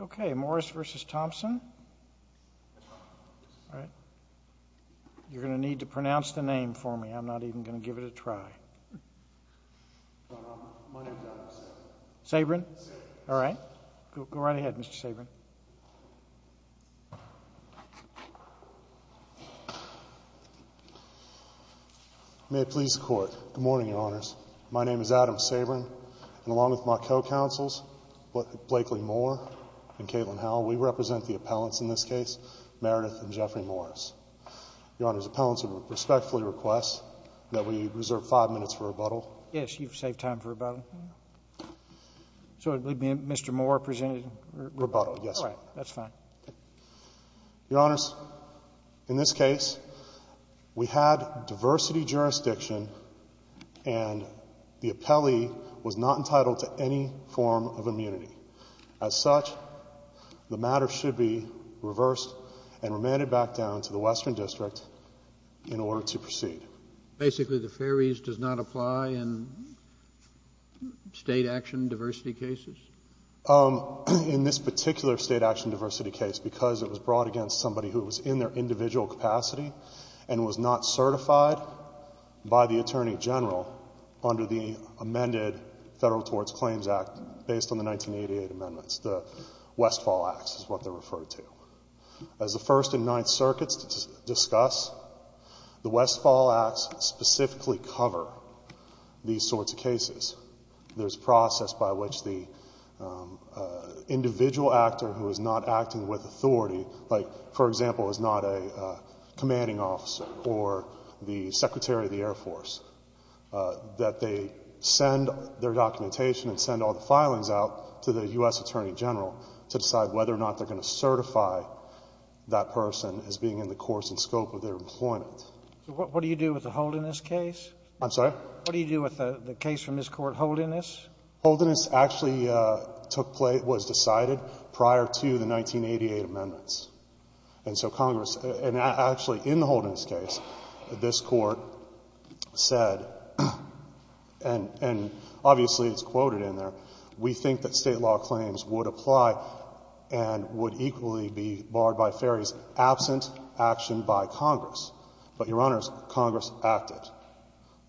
Okay, Morris v. Thompson. You're going to need to pronounce the name for me. I'm not even going to give it a try. My name is Adam Sabren. Sabren? All right. Go right ahead, Mr. Sabren. May it please the Court. Good morning, Your Honors. My name is Adam Sabren, and along with my co-counsels, Blakely Moore and Caitlin Howell, we represent the appellants in this case, Meredith and Jeffrey Morris. Your Honors, appellants, I respectfully request that we reserve five minutes for rebuttal. Yes, you've saved time for rebuttal. So it would be Mr. Moore presenting rebuttal? Rebuttal, yes. All right. That's fine. Your Honors, in this case, we had diversity jurisdiction, and the appellee was not entitled to any form of immunity. As such, the matter should be reversed and remanded back down to the Western District in order to proceed. Basically, the ferries does not apply in State action diversity cases? In this particular State action diversity case, because it was brought against somebody who was in their individual capacity and was not certified by the Attorney General under the amended Federal Torts Claims Act based on the 1988 amendments, the Westfall Acts is what they're referred to. As the First and Ninth Circuits discuss, the Westfall Acts specifically cover these sorts of cases. There's a process by which the individual actor who is not acting with authority, like, for example, is not a commanding officer or the Secretary of the Air Force, that they send their documentation and send all the filings out to the U.S. Attorney General to decide whether or not they're going to certify that person as being in the course and scope of their employment. What do you do with the hold in this case? I'm sorry? What do you do with the case from this Court, hold in this? Hold in this actually took place, was decided prior to the 1988 amendments. And so Congress, and actually in the hold in this case, this Court said, and obviously it's quoted in there, we think that State law claims would apply and would equally be barred by ferries absent action by Congress. But, Your Honors, Congress acted.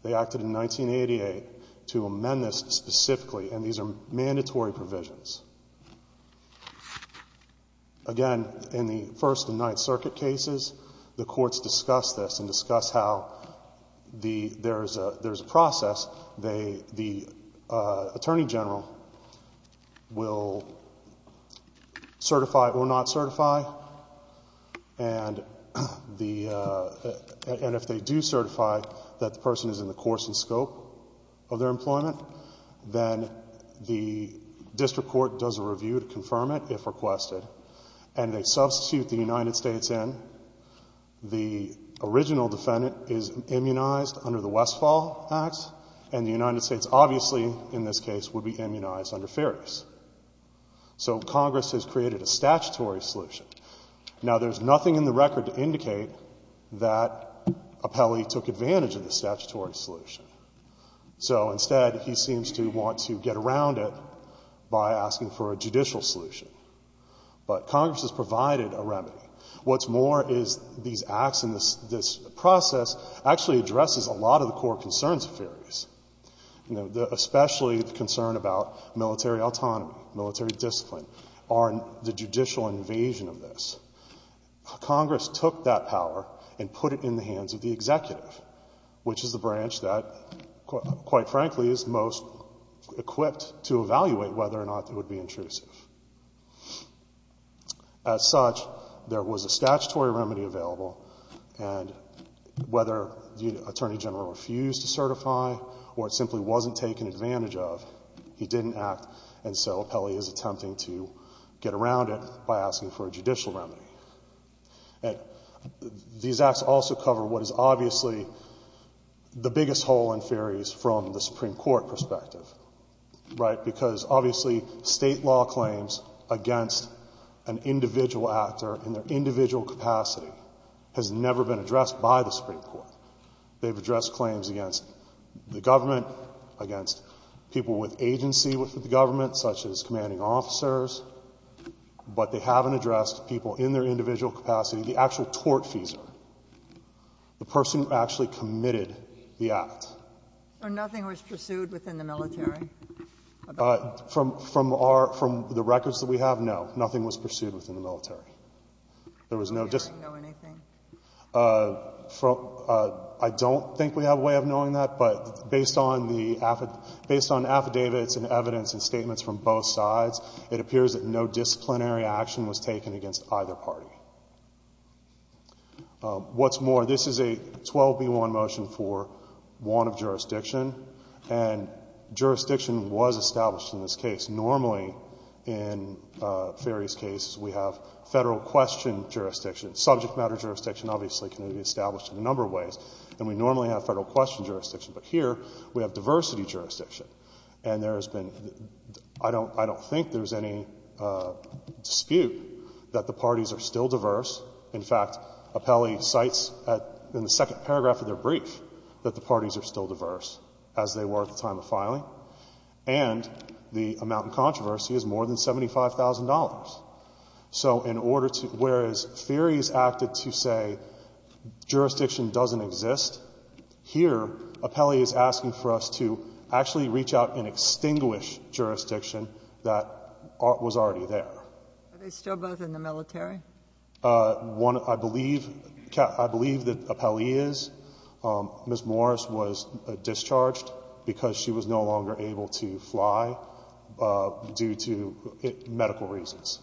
They acted in 1988 to amend this specifically, and these are mandatory provisions. Again, in the First and Ninth Circuit cases, the courts discuss this and discuss how there's a process. The Attorney General will certify or not certify, and if they do certify that the person is in the course and scope of their employment, then the District Court does a review to confirm it, if requested, and they substitute the United States in. The original defendant is immunized under the Westfall Act, and the United States obviously, in this case, would be immunized under ferries. So Congress has created a statutory solution. Now, there's nothing in the record to indicate that Apelli took advantage of the statutory solution. So instead, he seems to want to get around it by asking for a judicial solution. But Congress has provided a remedy. What's more is these acts in this process actually addresses a lot of the core concerns of ferries, especially the concern about military autonomy, military discipline, or the judicial invasion of this. Congress took that power and put it in the hands of the executive, which is the branch that, quite frankly, is most equipped to evaluate whether or not it would be intrusive. As such, there was a statutory remedy available, and whether the Attorney General refused to certify or it simply wasn't taken advantage of, he didn't act. And so Apelli is attempting to get around it by asking for a judicial remedy. These acts also cover what is obviously the biggest hole in ferries from the Supreme Court perspective, right, because obviously state law claims against an individual actor in their individual capacity has never been addressed by the Supreme Court. They've addressed claims against the government, against people with agency with the government, such as commanding officers. But they haven't addressed people in their individual capacity, the actual tortfeasor, the person who actually committed the act. Nothing was pursued within the military? From the records that we have, no. Nothing was pursued within the military. They didn't know anything? I don't think we have a way of knowing that. But based on the affidavits and evidence and statements from both sides, it appears that no disciplinary action was taken against either party. What's more, this is a 12B1 motion for want of jurisdiction, and jurisdiction was established in this case. Normally, in ferries cases, we have federal question jurisdiction. Subject matter jurisdiction obviously can be established in a number of ways. And we normally have federal question jurisdiction. But here we have diversity jurisdiction. And there has been — I don't think there's any dispute that the parties are still diverse. In fact, Apelli cites in the second paragraph of their brief that the parties are still diverse, as they were at the time of filing. And the amount in controversy is more than $75,000. So in order to — whereas ferries acted to say jurisdiction doesn't exist, here Apelli is asking for us to actually reach out and extinguish jurisdiction that was already there. Are they still both in the military? One, I believe — I believe that Apelli is. Ms. Morris was discharged because she was no longer able to fly due to medical reasons.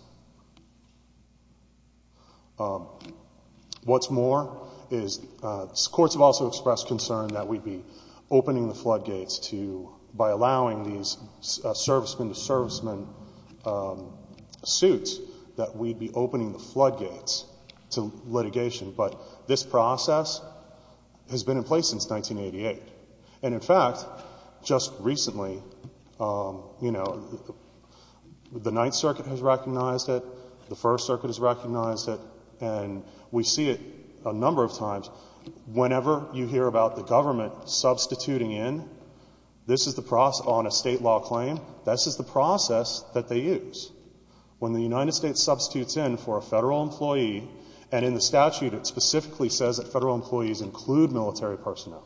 What's more is courts have also expressed concern that we'd be opening the floodgates to — by allowing these servicemen-to-servicemen suits, that we'd be opening the floodgates to litigation. But this process has been in place since 1988. And, in fact, just recently, you know, the Ninth Circuit has recognized it. The First Circuit has recognized it. And we see it a number of times. Whenever you hear about the government substituting in, this is the process — on a state law claim, this is the process that they use. When the United States substitutes in for a federal employee, and in the statute it specifically says that federal employees include military personnel,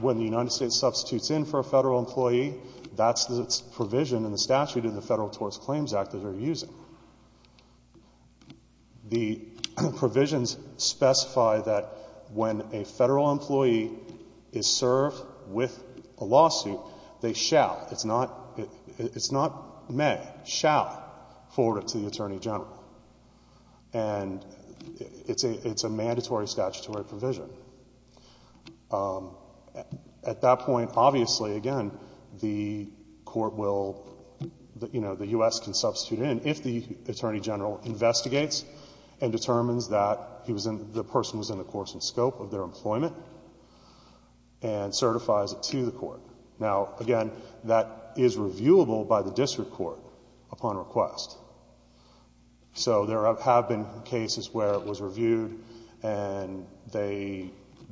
when the United States substitutes in for a federal employee, that's the provision in the statute of the Federal Tort Claims Act that they're using. The provisions specify that when a federal employee is served with a lawsuit, they shall — it's not may — shall forward it to the attorney general. And it's a mandatory statutory provision. At that point, obviously, again, the court will — you know, the U.S. can substitute in if the attorney general investigates and determines that the person was in the course and scope of their employment and certifies it to the court. Now, again, that is reviewable by the district court upon request. So there have been cases where it was reviewed and they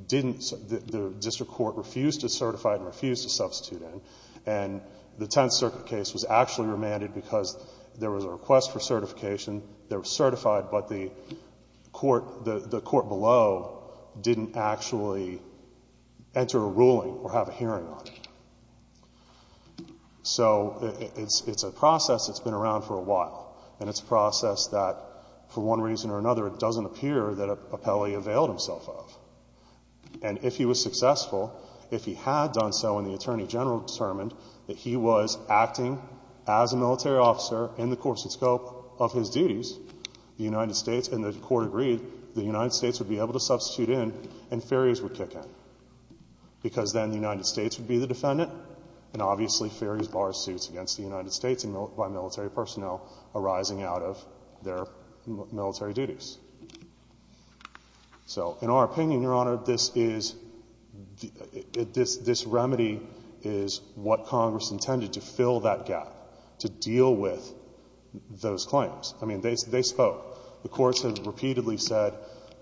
didn't — the district court refused to certify and refused to substitute in. And the Tenth Circuit case was actually remanded because there was a request for certification. They were certified, but the court below didn't actually enter a ruling or have a hearing on it. So it's a process that's been around for a while. And it's a process that, for one reason or another, it doesn't appear that a penalty availed himself of. And if he was successful, if he had done so and the attorney general determined that he was acting as a military officer in the course and scope of his duties, the United States and the court agreed, the United States would be able to substitute in and Ferries would kick in because then the United States would be the defendant. And obviously, Ferries bars suits against the United States by military personnel arising out of their military duties. So in our opinion, Your Honor, this is — this remedy is what Congress intended, to fill that gap, to deal with those claims. I mean, they spoke. The courts have repeatedly said,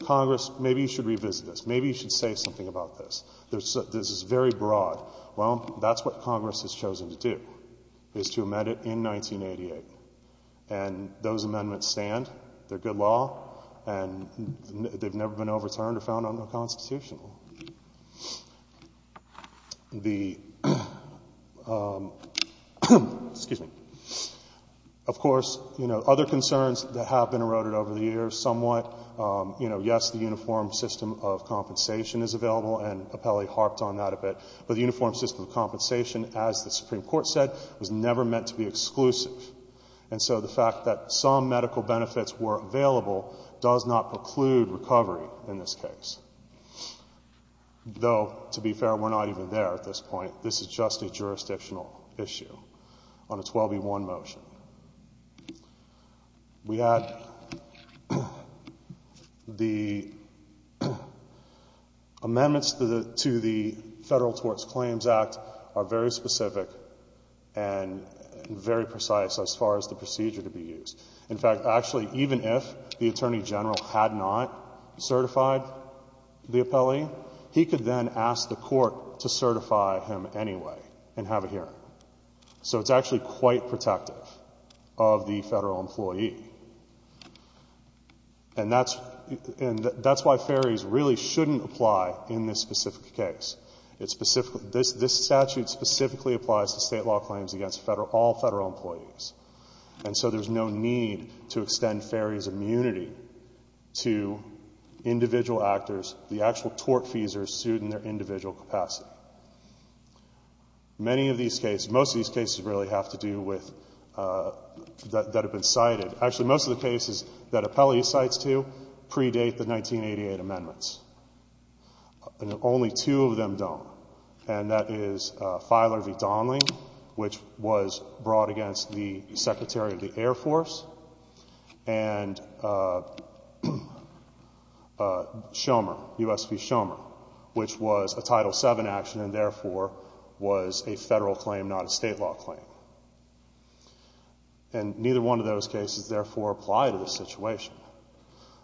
Congress, maybe you should revisit this. Maybe you should say something about this. This is very broad. Well, that's what Congress has chosen to do, is to amend it in 1988. And those amendments stand. They're good law. And they've never been overturned or found unconstitutional. The — excuse me. Of course, you know, other concerns that have been eroded over the years somewhat. You know, yes, the uniform system of compensation is available, and Appellee harped on that a bit. But the uniform system of compensation, as the Supreme Court said, was never meant to be exclusive. And so the fact that some medical benefits were available does not preclude recovery in this case. Though, to be fair, we're not even there at this point. This is just a jurisdictional issue on a 12-1 motion. We had the amendments to the Federal Torts Claims Act are very specific and very precise as far as the procedure to be used. In fact, actually, even if the Attorney General had not certified the appellee, he could then ask the court to certify him anyway and have a hearing. So it's actually quite protective of the federal employee. And that's why ferries really shouldn't apply in this specific case. This statute specifically applies to state law claims against all federal employees. And so there's no need to extend ferries' immunity to individual actors. The actual tort fees are sued in their individual capacity. Many of these cases, most of these cases really have to do with that have been cited. Actually, most of the cases that appellee cites to predate the 1988 amendments. And only two of them don't. And that is Filer v. Donley, which was brought against the Secretary of the Air Force, and Shomer, U.S. v. Shomer, which was a Title VII action and therefore was a federal claim, not a state law claim. And neither one of those cases, therefore, apply to this situation.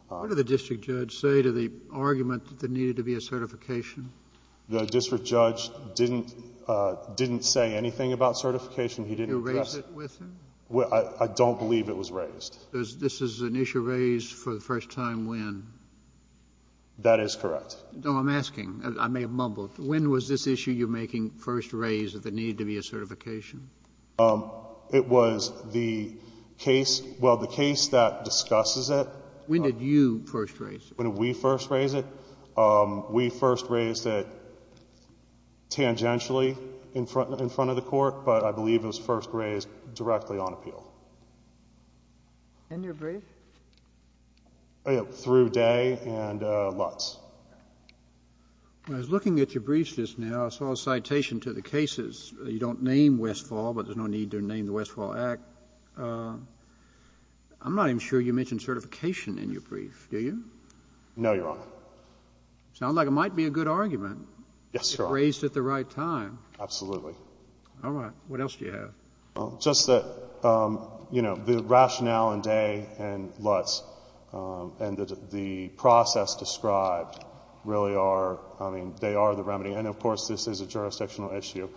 What did the district judge say to the argument that there needed to be a certification? The district judge didn't say anything about certification. He didn't address it. Erase it with him? I don't believe it was raised. This is an issue raised for the first time when? That is correct. No, I'm asking. I may have mumbled. When was this issue you're making first raised that there needed to be a certification? It was the case, well, the case that discusses it. When did you first raise it? When did we first raise it? We first raised it tangentially in front of the court, but I believe it was first raised directly on appeal. In your brief? Through Day and Lutz. I was looking at your briefs just now. I saw a citation to the cases. You don't name Westfall, but there's no need to name the Westfall Act. I'm not even sure you mentioned certification in your brief, do you? No, Your Honor. Sounds like it might be a good argument. Yes, Your Honor. Raised at the right time. Absolutely. All right. What else do you have? Just that, you know, the rationale in Day and Lutz and the process described really are, I mean, they are the remedy. And, of course, this is a jurisdictional issue.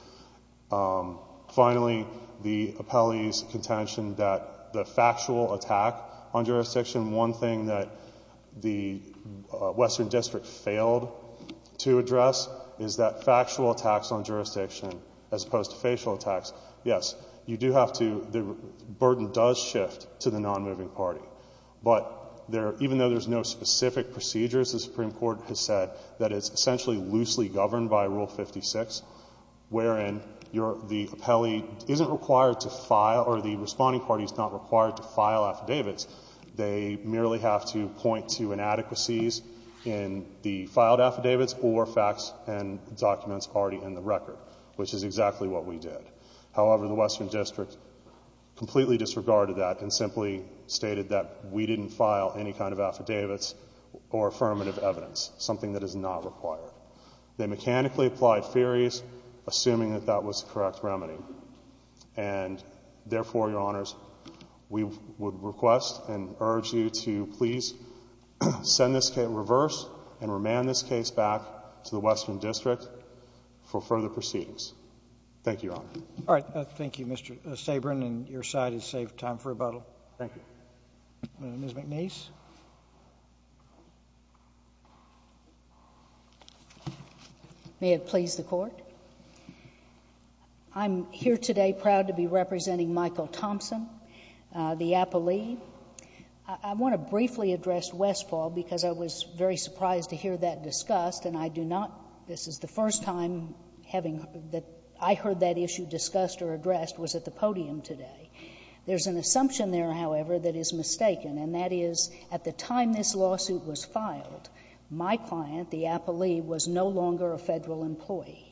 Finally, the appellee's contention that the factual attack on jurisdiction, one thing that the Western District failed to address, is that factual attacks on jurisdiction, as opposed to facial attacks, yes, you do have to, the burden does shift to the non-moving party. But even though there's no specific procedures, the Supreme Court has said that it's essentially loosely governed by Rule 56, wherein the appellee isn't required to file, or the responding party is not required to file affidavits. They merely have to point to inadequacies in the filed affidavits or facts and documents already in the record, which is exactly what we did. However, the Western District completely disregarded that and simply stated that we didn't file any kind of affidavits or affirmative evidence, something that is not required. They mechanically applied theories, assuming that that was the correct remedy. And, therefore, Your Honors, we would request and urge you to please send this case in reverse and remand this case back to the Western District for further proceedings. Thank you, Your Honor. All right. Thank you, Mr. Sabren. And your side has saved time for rebuttal. Thank you. Ms. McNiece. May it please the Court. I'm here today proud to be representing Michael Thompson, the appellee. I want to briefly address Westfall because I was very surprised to hear that discussed, and I do not — this is the first time having — that I heard that issue discussed or addressed was at the podium today. There's an assumption there, however, that is mistaken, and that is at the time this lawsuit was filed, my client, the appellee, was no longer a Federal employee.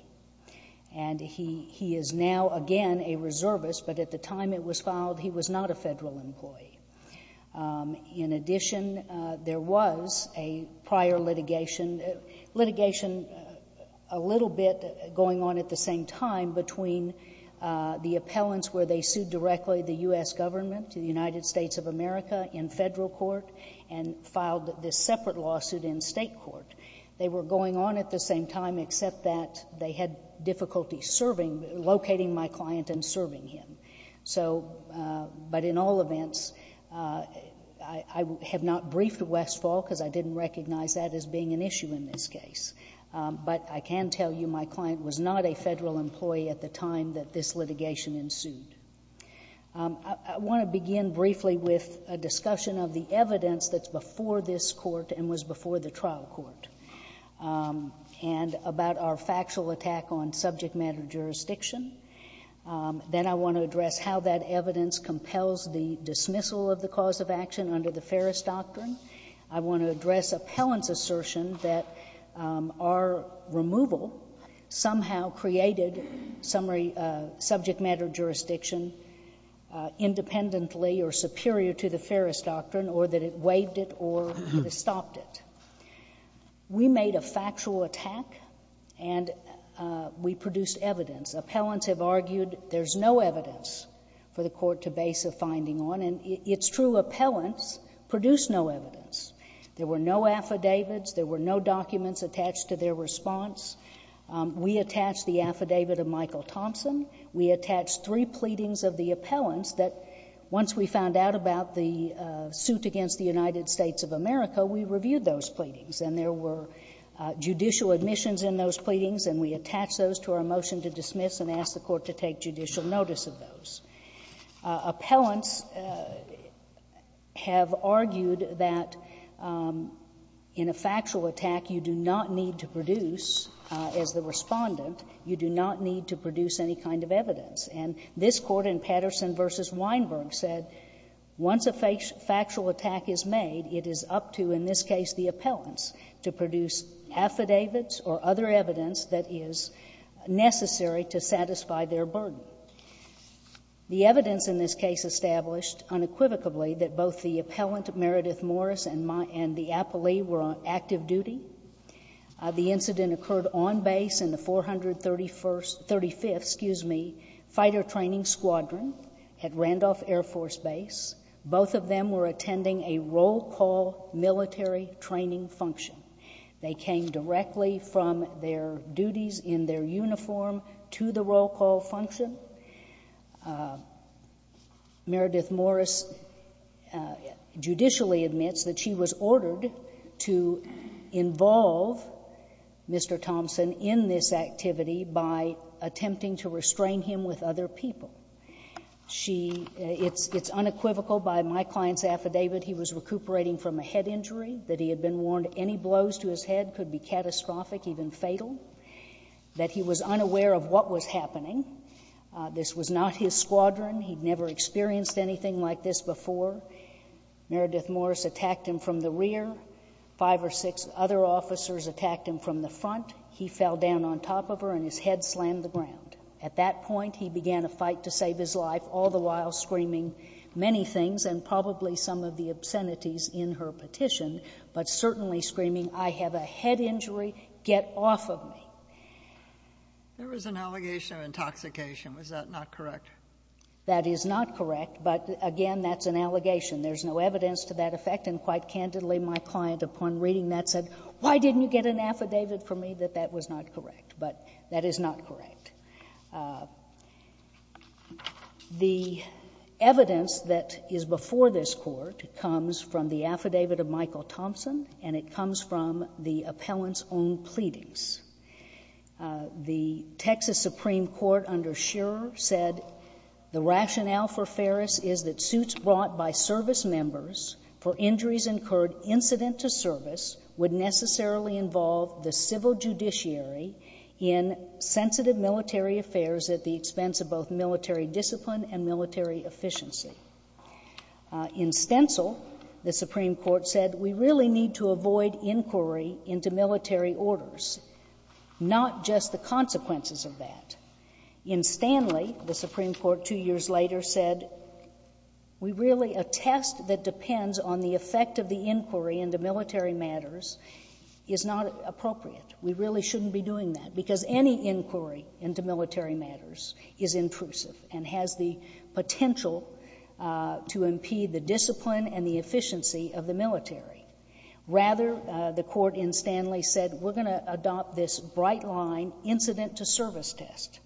And he is now, again, a reservist, but at the time it was filed, he was not a Federal employee. In addition, there was a prior litigation, litigation a little bit going on at the same time between the appellants where they sued directly the U.S. Government, the United States of America, in Federal court and filed this separate lawsuit in State court. They were going on at the same time except that they had difficulty serving — locating my client and serving him. So, but in all events, I have not briefed Westfall because I didn't recognize that as being an issue in this case. But I can tell you my client was not a Federal employee at the time that this litigation ensued. I want to begin briefly with a discussion of the evidence that's before this Court and was before the trial court and about our factual attack on subject matter jurisdiction. Then I want to address how that evidence compels the dismissal of the cause of action under the Ferris Doctrine. I want to address appellant's assertion that our removal somehow created subject matter jurisdiction independently or superior to the Ferris Doctrine or that it waived it or stopped it. We made a factual attack and we produced evidence. Appellants have argued there's no evidence for the Court to base a finding on. And it's true, appellants produced no evidence. There were no affidavits. There were no documents attached to their response. We attached the affidavit of Michael Thompson. We attached three pleadings of the appellants that once we found out about the suit against the United States of America, we reviewed those pleadings. And there were judicial admissions in those pleadings, and we attached those to our motion to dismiss and asked the Court to take judicial notice of those. Appellants have argued that in a factual attack you do not need to produce, as the Respondent, you do not need to produce any kind of evidence. And this Court in Patterson v. Weinberg said once a factual attack is made, it is up to, in this case, the appellants, to produce affidavits or other evidence that is necessary to satisfy their burden. The evidence in this case established unequivocally that both the appellant, Meredith Morris, and the appellee were on active duty. The incident occurred on base in the 435th Fighter Training Squadron at Randolph Air Force Base. Both of them were attending a roll call military training function. They came directly from their duties in their uniform to the roll call function. Meredith Morris judicially admits that she was ordered to involve Mr. Thompson in this activity by attempting to restrain him with other people. She — it's unequivocal by my client's affidavit he was recuperating from a head injury, that he had been warned any blows to his head could be catastrophic, even fatal, that he was unaware of what was happening. This was not his squadron. He had never experienced anything like this before. Meredith Morris attacked him from the rear. Five or six other officers attacked him from the front. He fell down on top of her and his head slammed the ground. At that point, he began a fight to save his life, all the while screaming many things and probably some of the obscenities in her petition, but certainly screaming, I have a head injury, get off of me. There was an allegation of intoxication. Was that not correct? That is not correct. But, again, that's an allegation. There's no evidence to that effect. And quite candidly, my client, upon reading that, said, why didn't you get an affidavit from me that that was not correct? But that is not correct. The evidence that is before this Court comes from the affidavit of Michael Thompson, and it comes from the appellant's own pleadings. The Texas Supreme Court under Scherer said, The rationale for Ferris is that suits brought by service members for injuries incurred incident to service would necessarily involve the civil judiciary in sensitive military affairs at the expense of both military discipline and military efficiency. In Stencil, the Supreme Court said, We really need to avoid inquiry into military orders, not just the consequences of that. In Stanley, the Supreme Court two years later said, We really — a test that depends on the effect of the inquiry into military matters is not appropriate. We really shouldn't be doing that, because any inquiry into military matters is intrusive and has the potential to impede the discipline and the efficiency of the military. Rather, the Court in Stanley said, We're going to adopt this bright-line incident-to-service test.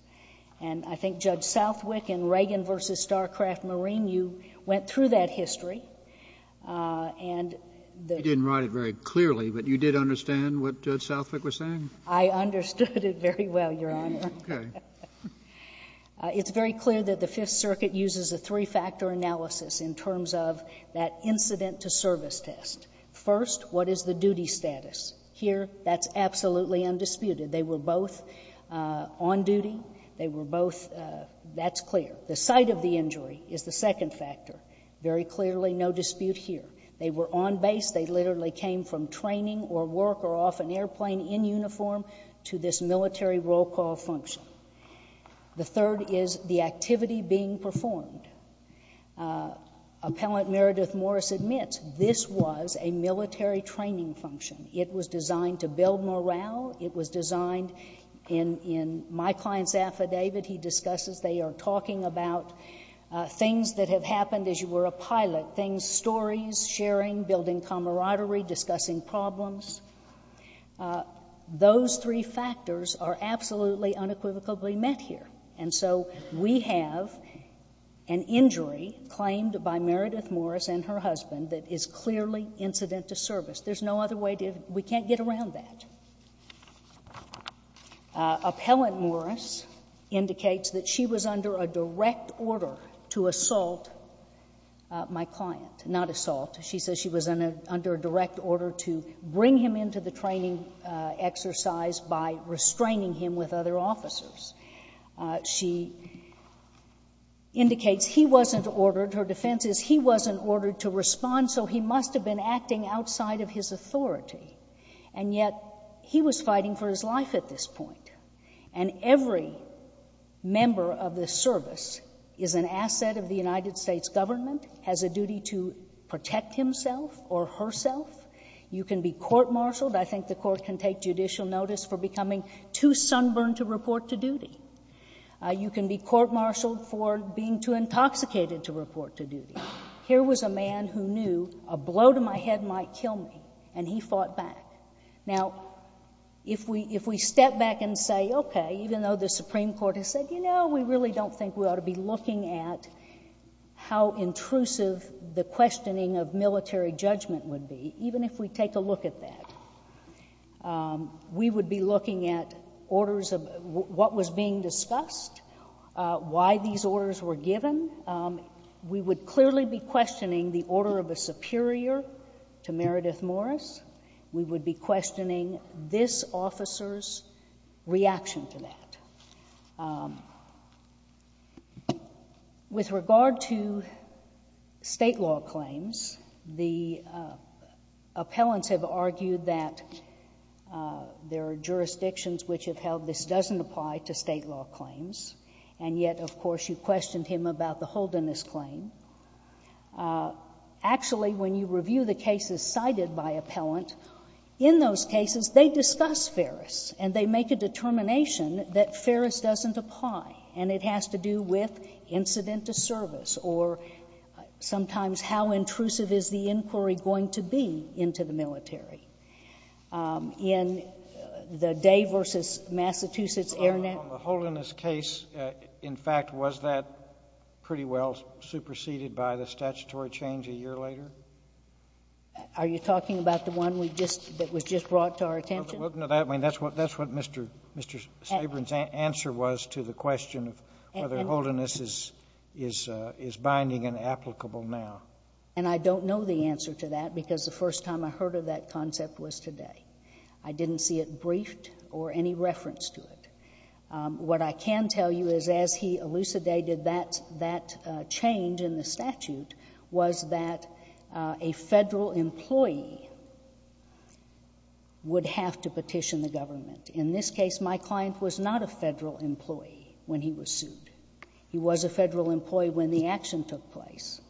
And I think Judge Southwick in Reagan v. Starcraft Marine, you went through that history, and the — You didn't write it very clearly, but you did understand what Judge Southwick was saying? I understood it very well, Your Honor. Okay. It's very clear that the Fifth Circuit uses a three-factor analysis in terms of that incident-to-service test. First, what is the duty status? Here, that's absolutely undisputed. They were both on duty. They were both — that's clear. The site of the injury is the second factor. Very clearly, no dispute here. They were on base. They literally came from training or work or off an airplane in uniform to this military roll call function. The third is the activity being performed. Appellant Meredith Morris admits this was a military training function. It was designed to build morale. It was designed in my client's affidavit. He discusses they are talking about things that have happened as you were a pilot, things — stories, sharing, building camaraderie, discussing problems. Those three factors are absolutely unequivocally met here. And so we have an injury claimed by Meredith Morris and her husband that is clearly incident-to-service. There's no other way to — we can't get around that. Appellant Morris indicates that she was under a direct order to assault my client. Not assault. She says she was under a direct order to bring him into the training exercise by restraining him with other officers. She indicates he wasn't ordered. Her defense is he wasn't ordered to respond, so he must have been acting outside of his authority. And yet he was fighting for his life at this point. And every member of the service is an asset of the United States government, has a duty to protect himself or herself. You can be court-martialed. I think the court can take judicial notice for becoming too sunburned to report to duty. You can be court-martialed for being too intoxicated to report to duty. Here was a man who knew a blow to my head might kill me, and he fought back. Now, if we step back and say, okay, even though the Supreme Court has said, you know, we really don't think we ought to be looking at how intrusive the questioning of military judgment would be, even if we take a look at that, we would be looking at orders of what was being discussed, why these orders were given. We would clearly be questioning the order of a superior to Meredith Morris. We would be questioning this officer's reaction to that. With regard to State law claims, the appellants have argued that there are jurisdictions which have held this doesn't apply to State law claims. And yet, of course, you questioned him about the Holdenist claim. Actually, when you review the cases cited by appellant, in those cases, they discuss Ferris, and they make a determination that Ferris doesn't apply, and it has to do with incident to service, or sometimes how intrusive is the inquiry going to be into the military. In the Day v. Massachusetts Air National — The Holdenist case, in fact, was that pretty well superseded by the statutory change a year later? Are you talking about the one that was just brought to our attention? Well, that's what Mr. Staben's answer was to the question of whether Holdenist is binding and applicable now. And I don't know the answer to that because the first time I heard of that concept was today. I didn't see it briefed or any reference to it. What I can tell you is, as he elucidated that change in the statute, was that a Federal employee would have to petition the government. In this case, my client was not a Federal employee when he was sued. He was a Federal employee when the action took place.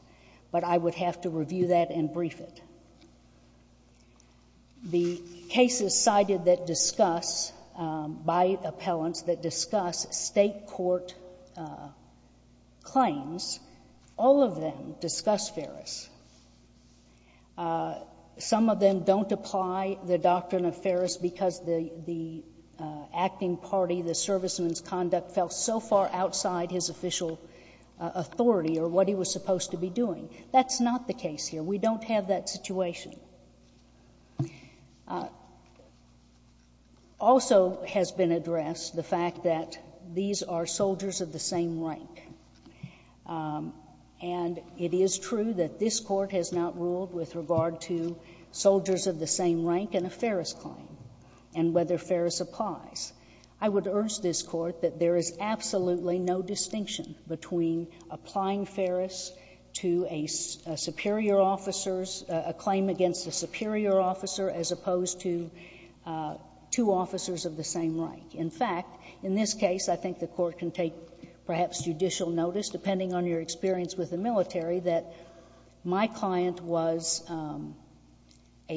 But I would have to review that and brief it. The cases cited by appellants that discuss State court claims, all of them discuss Ferris. Some of them don't apply the doctrine of Ferris because the acting party, the serviceman's conduct, fell so far outside his official authority or what he was supposed to be doing. That's not the case here. We don't have that situation. Also has been addressed the fact that these are soldiers of the same rank. And it is true that this Court has not ruled with regard to soldiers of the same rank in a Ferris claim and whether Ferris applies. I would urge this Court that there is absolutely no distinction between applying Ferris to a superior officer's claim against a superior officer as opposed to two officers of the same rank. In fact, in this case, I think the Court can take perhaps judicial notice, depending on your experience with the military, that my client was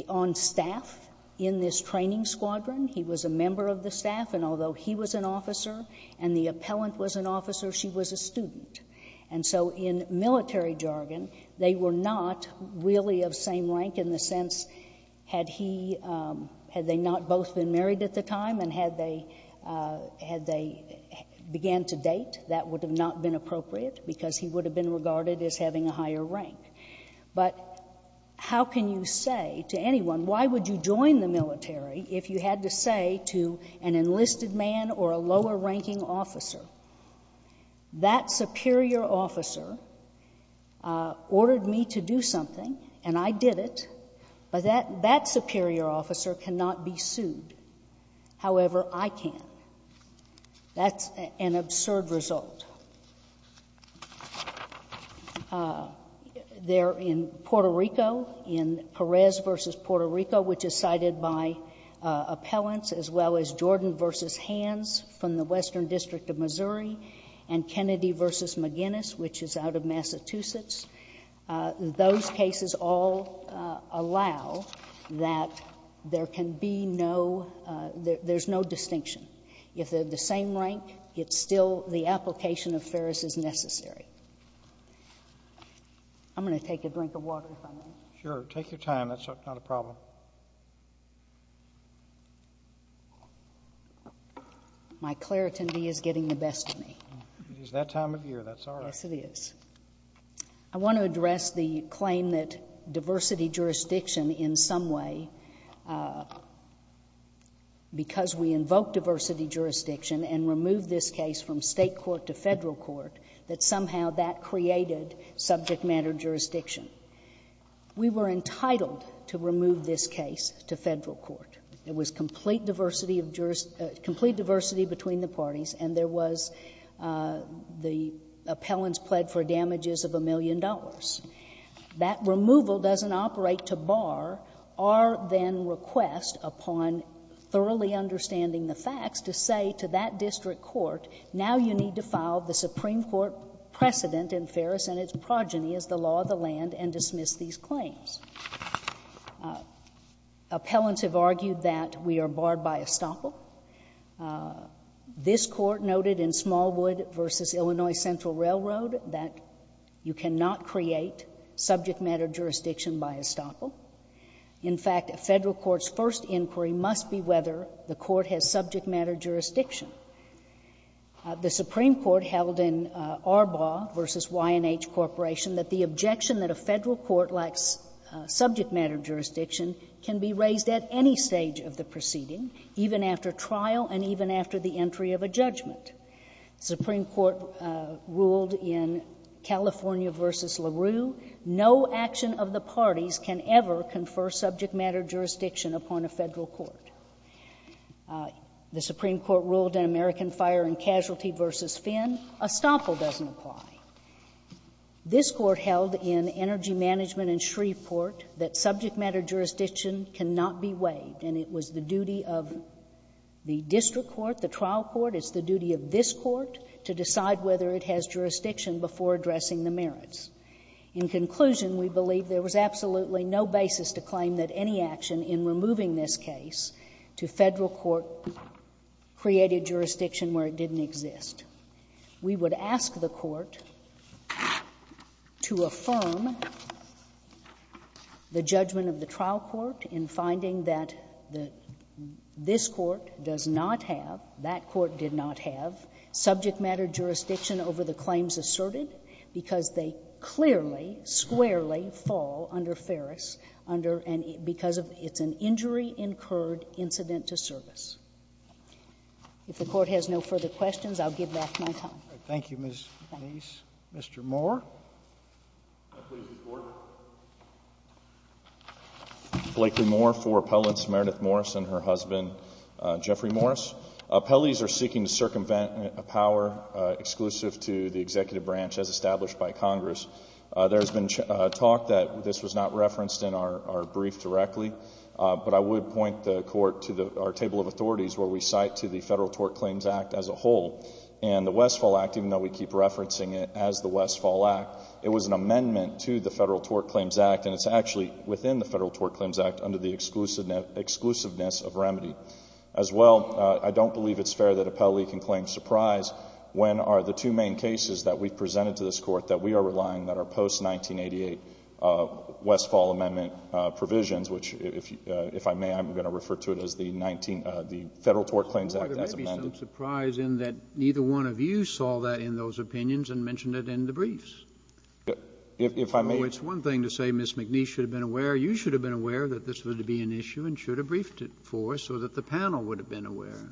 on staff in this training squadron. He was a member of the staff. And although he was an officer and the appellant was an officer, she was a student. And so in military jargon, they were not really of same rank in the sense had he — had they not both been married at the time and had they — had they began to date, that would have not been appropriate because he would have been regarded as having a higher rank. But how can you say to anyone, why would you join the military, if you had to say to an enlisted man or a lower-ranking officer? That superior officer ordered me to do something and I did it, but that superior officer cannot be sued. However, I can. That's an absurd result. They're in Puerto Rico, in Perez v. Puerto Rico, which is cited by appellants, as Missouri, and Kennedy v. McGinnis, which is out of Massachusetts. Those cases all allow that there can be no — there's no distinction. If they're the same rank, it's still — the application of Ferris is necessary. I'm going to take a drink of water if I may. Sure. Take your time. That's not a problem. My claritin D is getting the best of me. It is that time of year. That's all right. Yes, it is. I want to address the claim that diversity jurisdiction, in some way, because we invoked diversity jurisdiction and removed this case from state court to federal court, that somehow that created subject matter jurisdiction. We were entitled to remove this case to federal court. There was complete diversity of — complete diversity between the parties, and there was — the appellants pled for damages of a million dollars. That removal doesn't operate to bar our then request, upon thoroughly understanding the facts, to say to that district court, now you need to file the and dismiss these claims. Appellants have argued that we are barred by estoppel. This court noted in Smallwood v. Illinois Central Railroad that you cannot create subject matter jurisdiction by estoppel. In fact, a federal court's first inquiry must be whether the court has subject matter jurisdiction. The Supreme Court held in Arbaugh v. Y&H Corporation that the objection that a federal court lacks subject matter jurisdiction can be raised at any stage of the proceeding, even after trial and even after the entry of a judgment. The Supreme Court ruled in California v. LaRue, no action of the parties can ever confer subject matter jurisdiction upon a federal court. The Supreme Court ruled in American Fire and Casualty v. Finn, estoppel doesn't apply. This court held in Energy Management and Shreveport that subject matter jurisdiction cannot be waived, and it was the duty of the district court, the trial court, it's the duty of this court to decide whether it has jurisdiction before addressing the merits. In conclusion, we believe there was absolutely no basis to claim that any action in removing this case to federal court created jurisdiction where it didn't exist. We would ask the court to affirm the judgment of the trial court in finding that this court does not have, that court did not have subject matter jurisdiction over the claims asserted because they clearly, squarely fall under Ferris under and because of, it's an injury incurred incident to service. If the court has no further questions, I'll give back my time. Thank you, Ms. Nese. Mr. Moore. Can I please record? Blakely Moore for appellants Meredith Morris and her husband, Jeffrey Morris. Appellees are seeking to circumvent a power exclusive to the executive branch as established by Congress. There has been talk that this was not referenced in our brief directly, but I would point the court to our table of authorities where we cite to the Federal Tort Claims Act as a whole, and the Westfall Act, even though we keep referencing it as the Westfall Act, it was an amendment to the Federal Tort Claims Act, and it's actually within the Federal Tort Claims Act under the exclusiveness of remedy. As well, I don't believe it's fair that appellee can claim surprise when are the two main cases that we've presented to this court that we are relying that are post-1988 Westfall amendment provisions, which, if I may, I'm going to refer to it as the Federal Tort Claims Act as amended. There may be some surprise in that neither one of you saw that in those opinions and mentioned it in the briefs. If I may. It's one thing to say Ms. McNeece should have been aware. You should have been aware that this was going to be an issue and should have briefed it for us so that the panel would have been aware.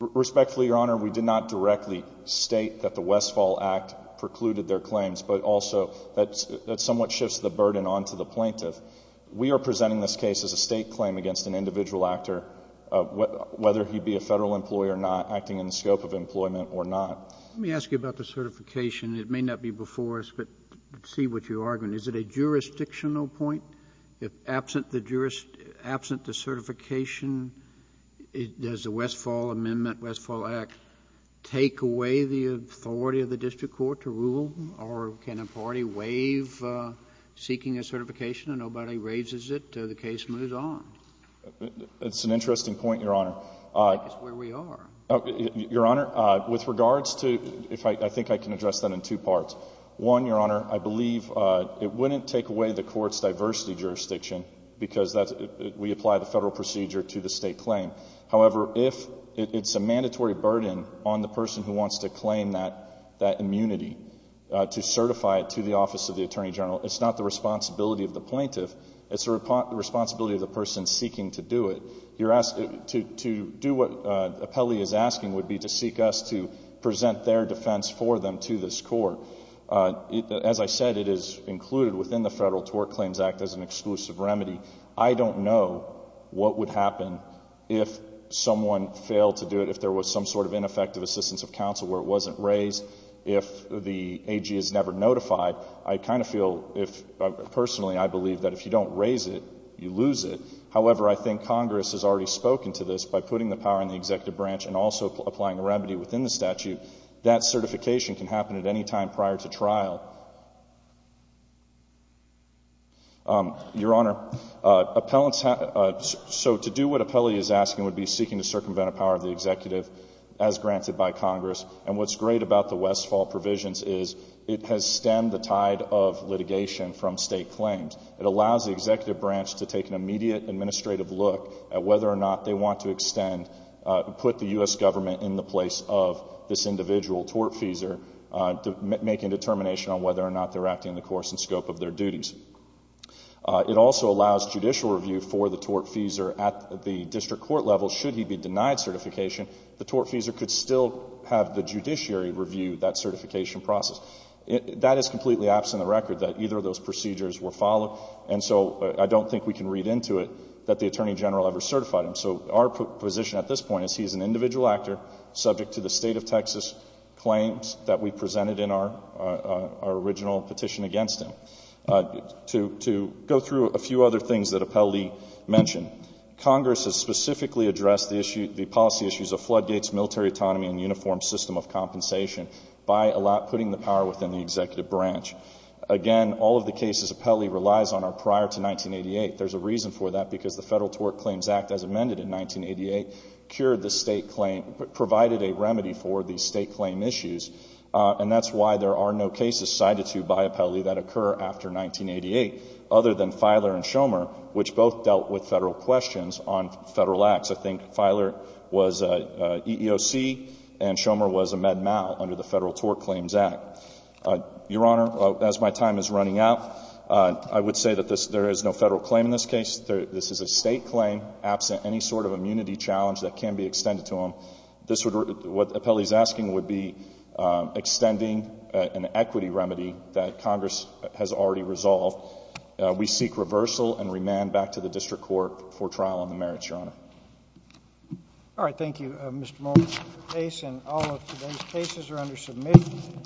Respectfully, Your Honor, we did not directly state that the Westfall Act precluded their claims, but also that somewhat shifts the burden onto the plaintiff. We are presenting this case as a state claim against an individual actor, whether he be a Federal employee or not, acting in the scope of employment or not. Let me ask you about the certification. It may not be before us, but I see what you're arguing. Is it a jurisdictional point? Absent the certification, does the Westfall Amendment, Westfall Act, take away the authority of the district court to rule or can a party waive seeking a certification and nobody raises it? The case moves on. That's an interesting point, Your Honor. That's where we are. Your Honor, with regards to, I think I can address that in two parts. One, Your Honor, I believe it wouldn't take away the court's diversity jurisdiction because we apply the Federal procedure to the state claim. However, if it's a mandatory burden on the person who wants to claim that immunity to certify it to the Office of the Attorney General, it's not the responsibility of the plaintiff. It's the responsibility of the person seeking to do it. To do what Appelli is asking would be to seek us to present their defense for them to this court. As I said, it is included within the Federal Tort Claims Act as an exclusive remedy. I don't know what would happen if someone failed to do it, if there was some sort of ineffective assistance of counsel where it wasn't raised, if the AG is never notified. I kind of feel, personally, I believe that if you don't raise it, you lose it. However, I think Congress has already spoken to this by putting the power in the executive branch and also applying a remedy within the statute. That certification can happen at any time prior to trial. Your Honor, so to do what Appelli is asking would be seeking to circumvent a power of the executive as granted by Congress. And what's great about the Westfall provisions is it has stemmed the tide of litigation from state claims. It allows the executive branch to take an immediate administrative look at whether or not they want to extend, put the U.S. government in the place of this individual, tortfeasor, to make a determination on whether or not they're acting in the course and scope of their duties. It also allows judicial review for the tortfeasor at the district court level. Should he be denied certification, the tortfeasor could still have the judiciary review that certification process. That is completely absent of the record, that either of those procedures were followed. And so I don't think we can read into it that the Attorney General ever certified him. So our position at this point is he's an individual actor subject to the State of Texas claims that we presented in our original petition against him. To go through a few other things that Appelli mentioned, Congress has specifically addressed the policy issues of floodgates, military autonomy, and uniform system of compensation by putting the power within the executive branch. Again, all of the cases Appelli relies on are prior to 1988. There's a reason for that because the Federal Tort Claims Act, as amended in 1988, cured the State claim, provided a remedy for the State claim issues. And that's why there are no cases cited to by Appelli that occur after 1988, other than Feiler and Schomer, which both dealt with Federal questions on Federal acts. I think Feiler was EEOC, and Schomer was a med mal under the Federal Tort Claims Act. Your Honor, as my time is running out, I would say that there is no Federal claim in this case. This is a State claim absent any sort of immunity challenge that can be extended to him. What Appelli is asking would be extending an equity remedy that Congress has already resolved. We seek reversal and remand back to the District Court for trial on the merits, Your Honor. All right, thank you, Mr. Mullen. And all of today's cases are under submission.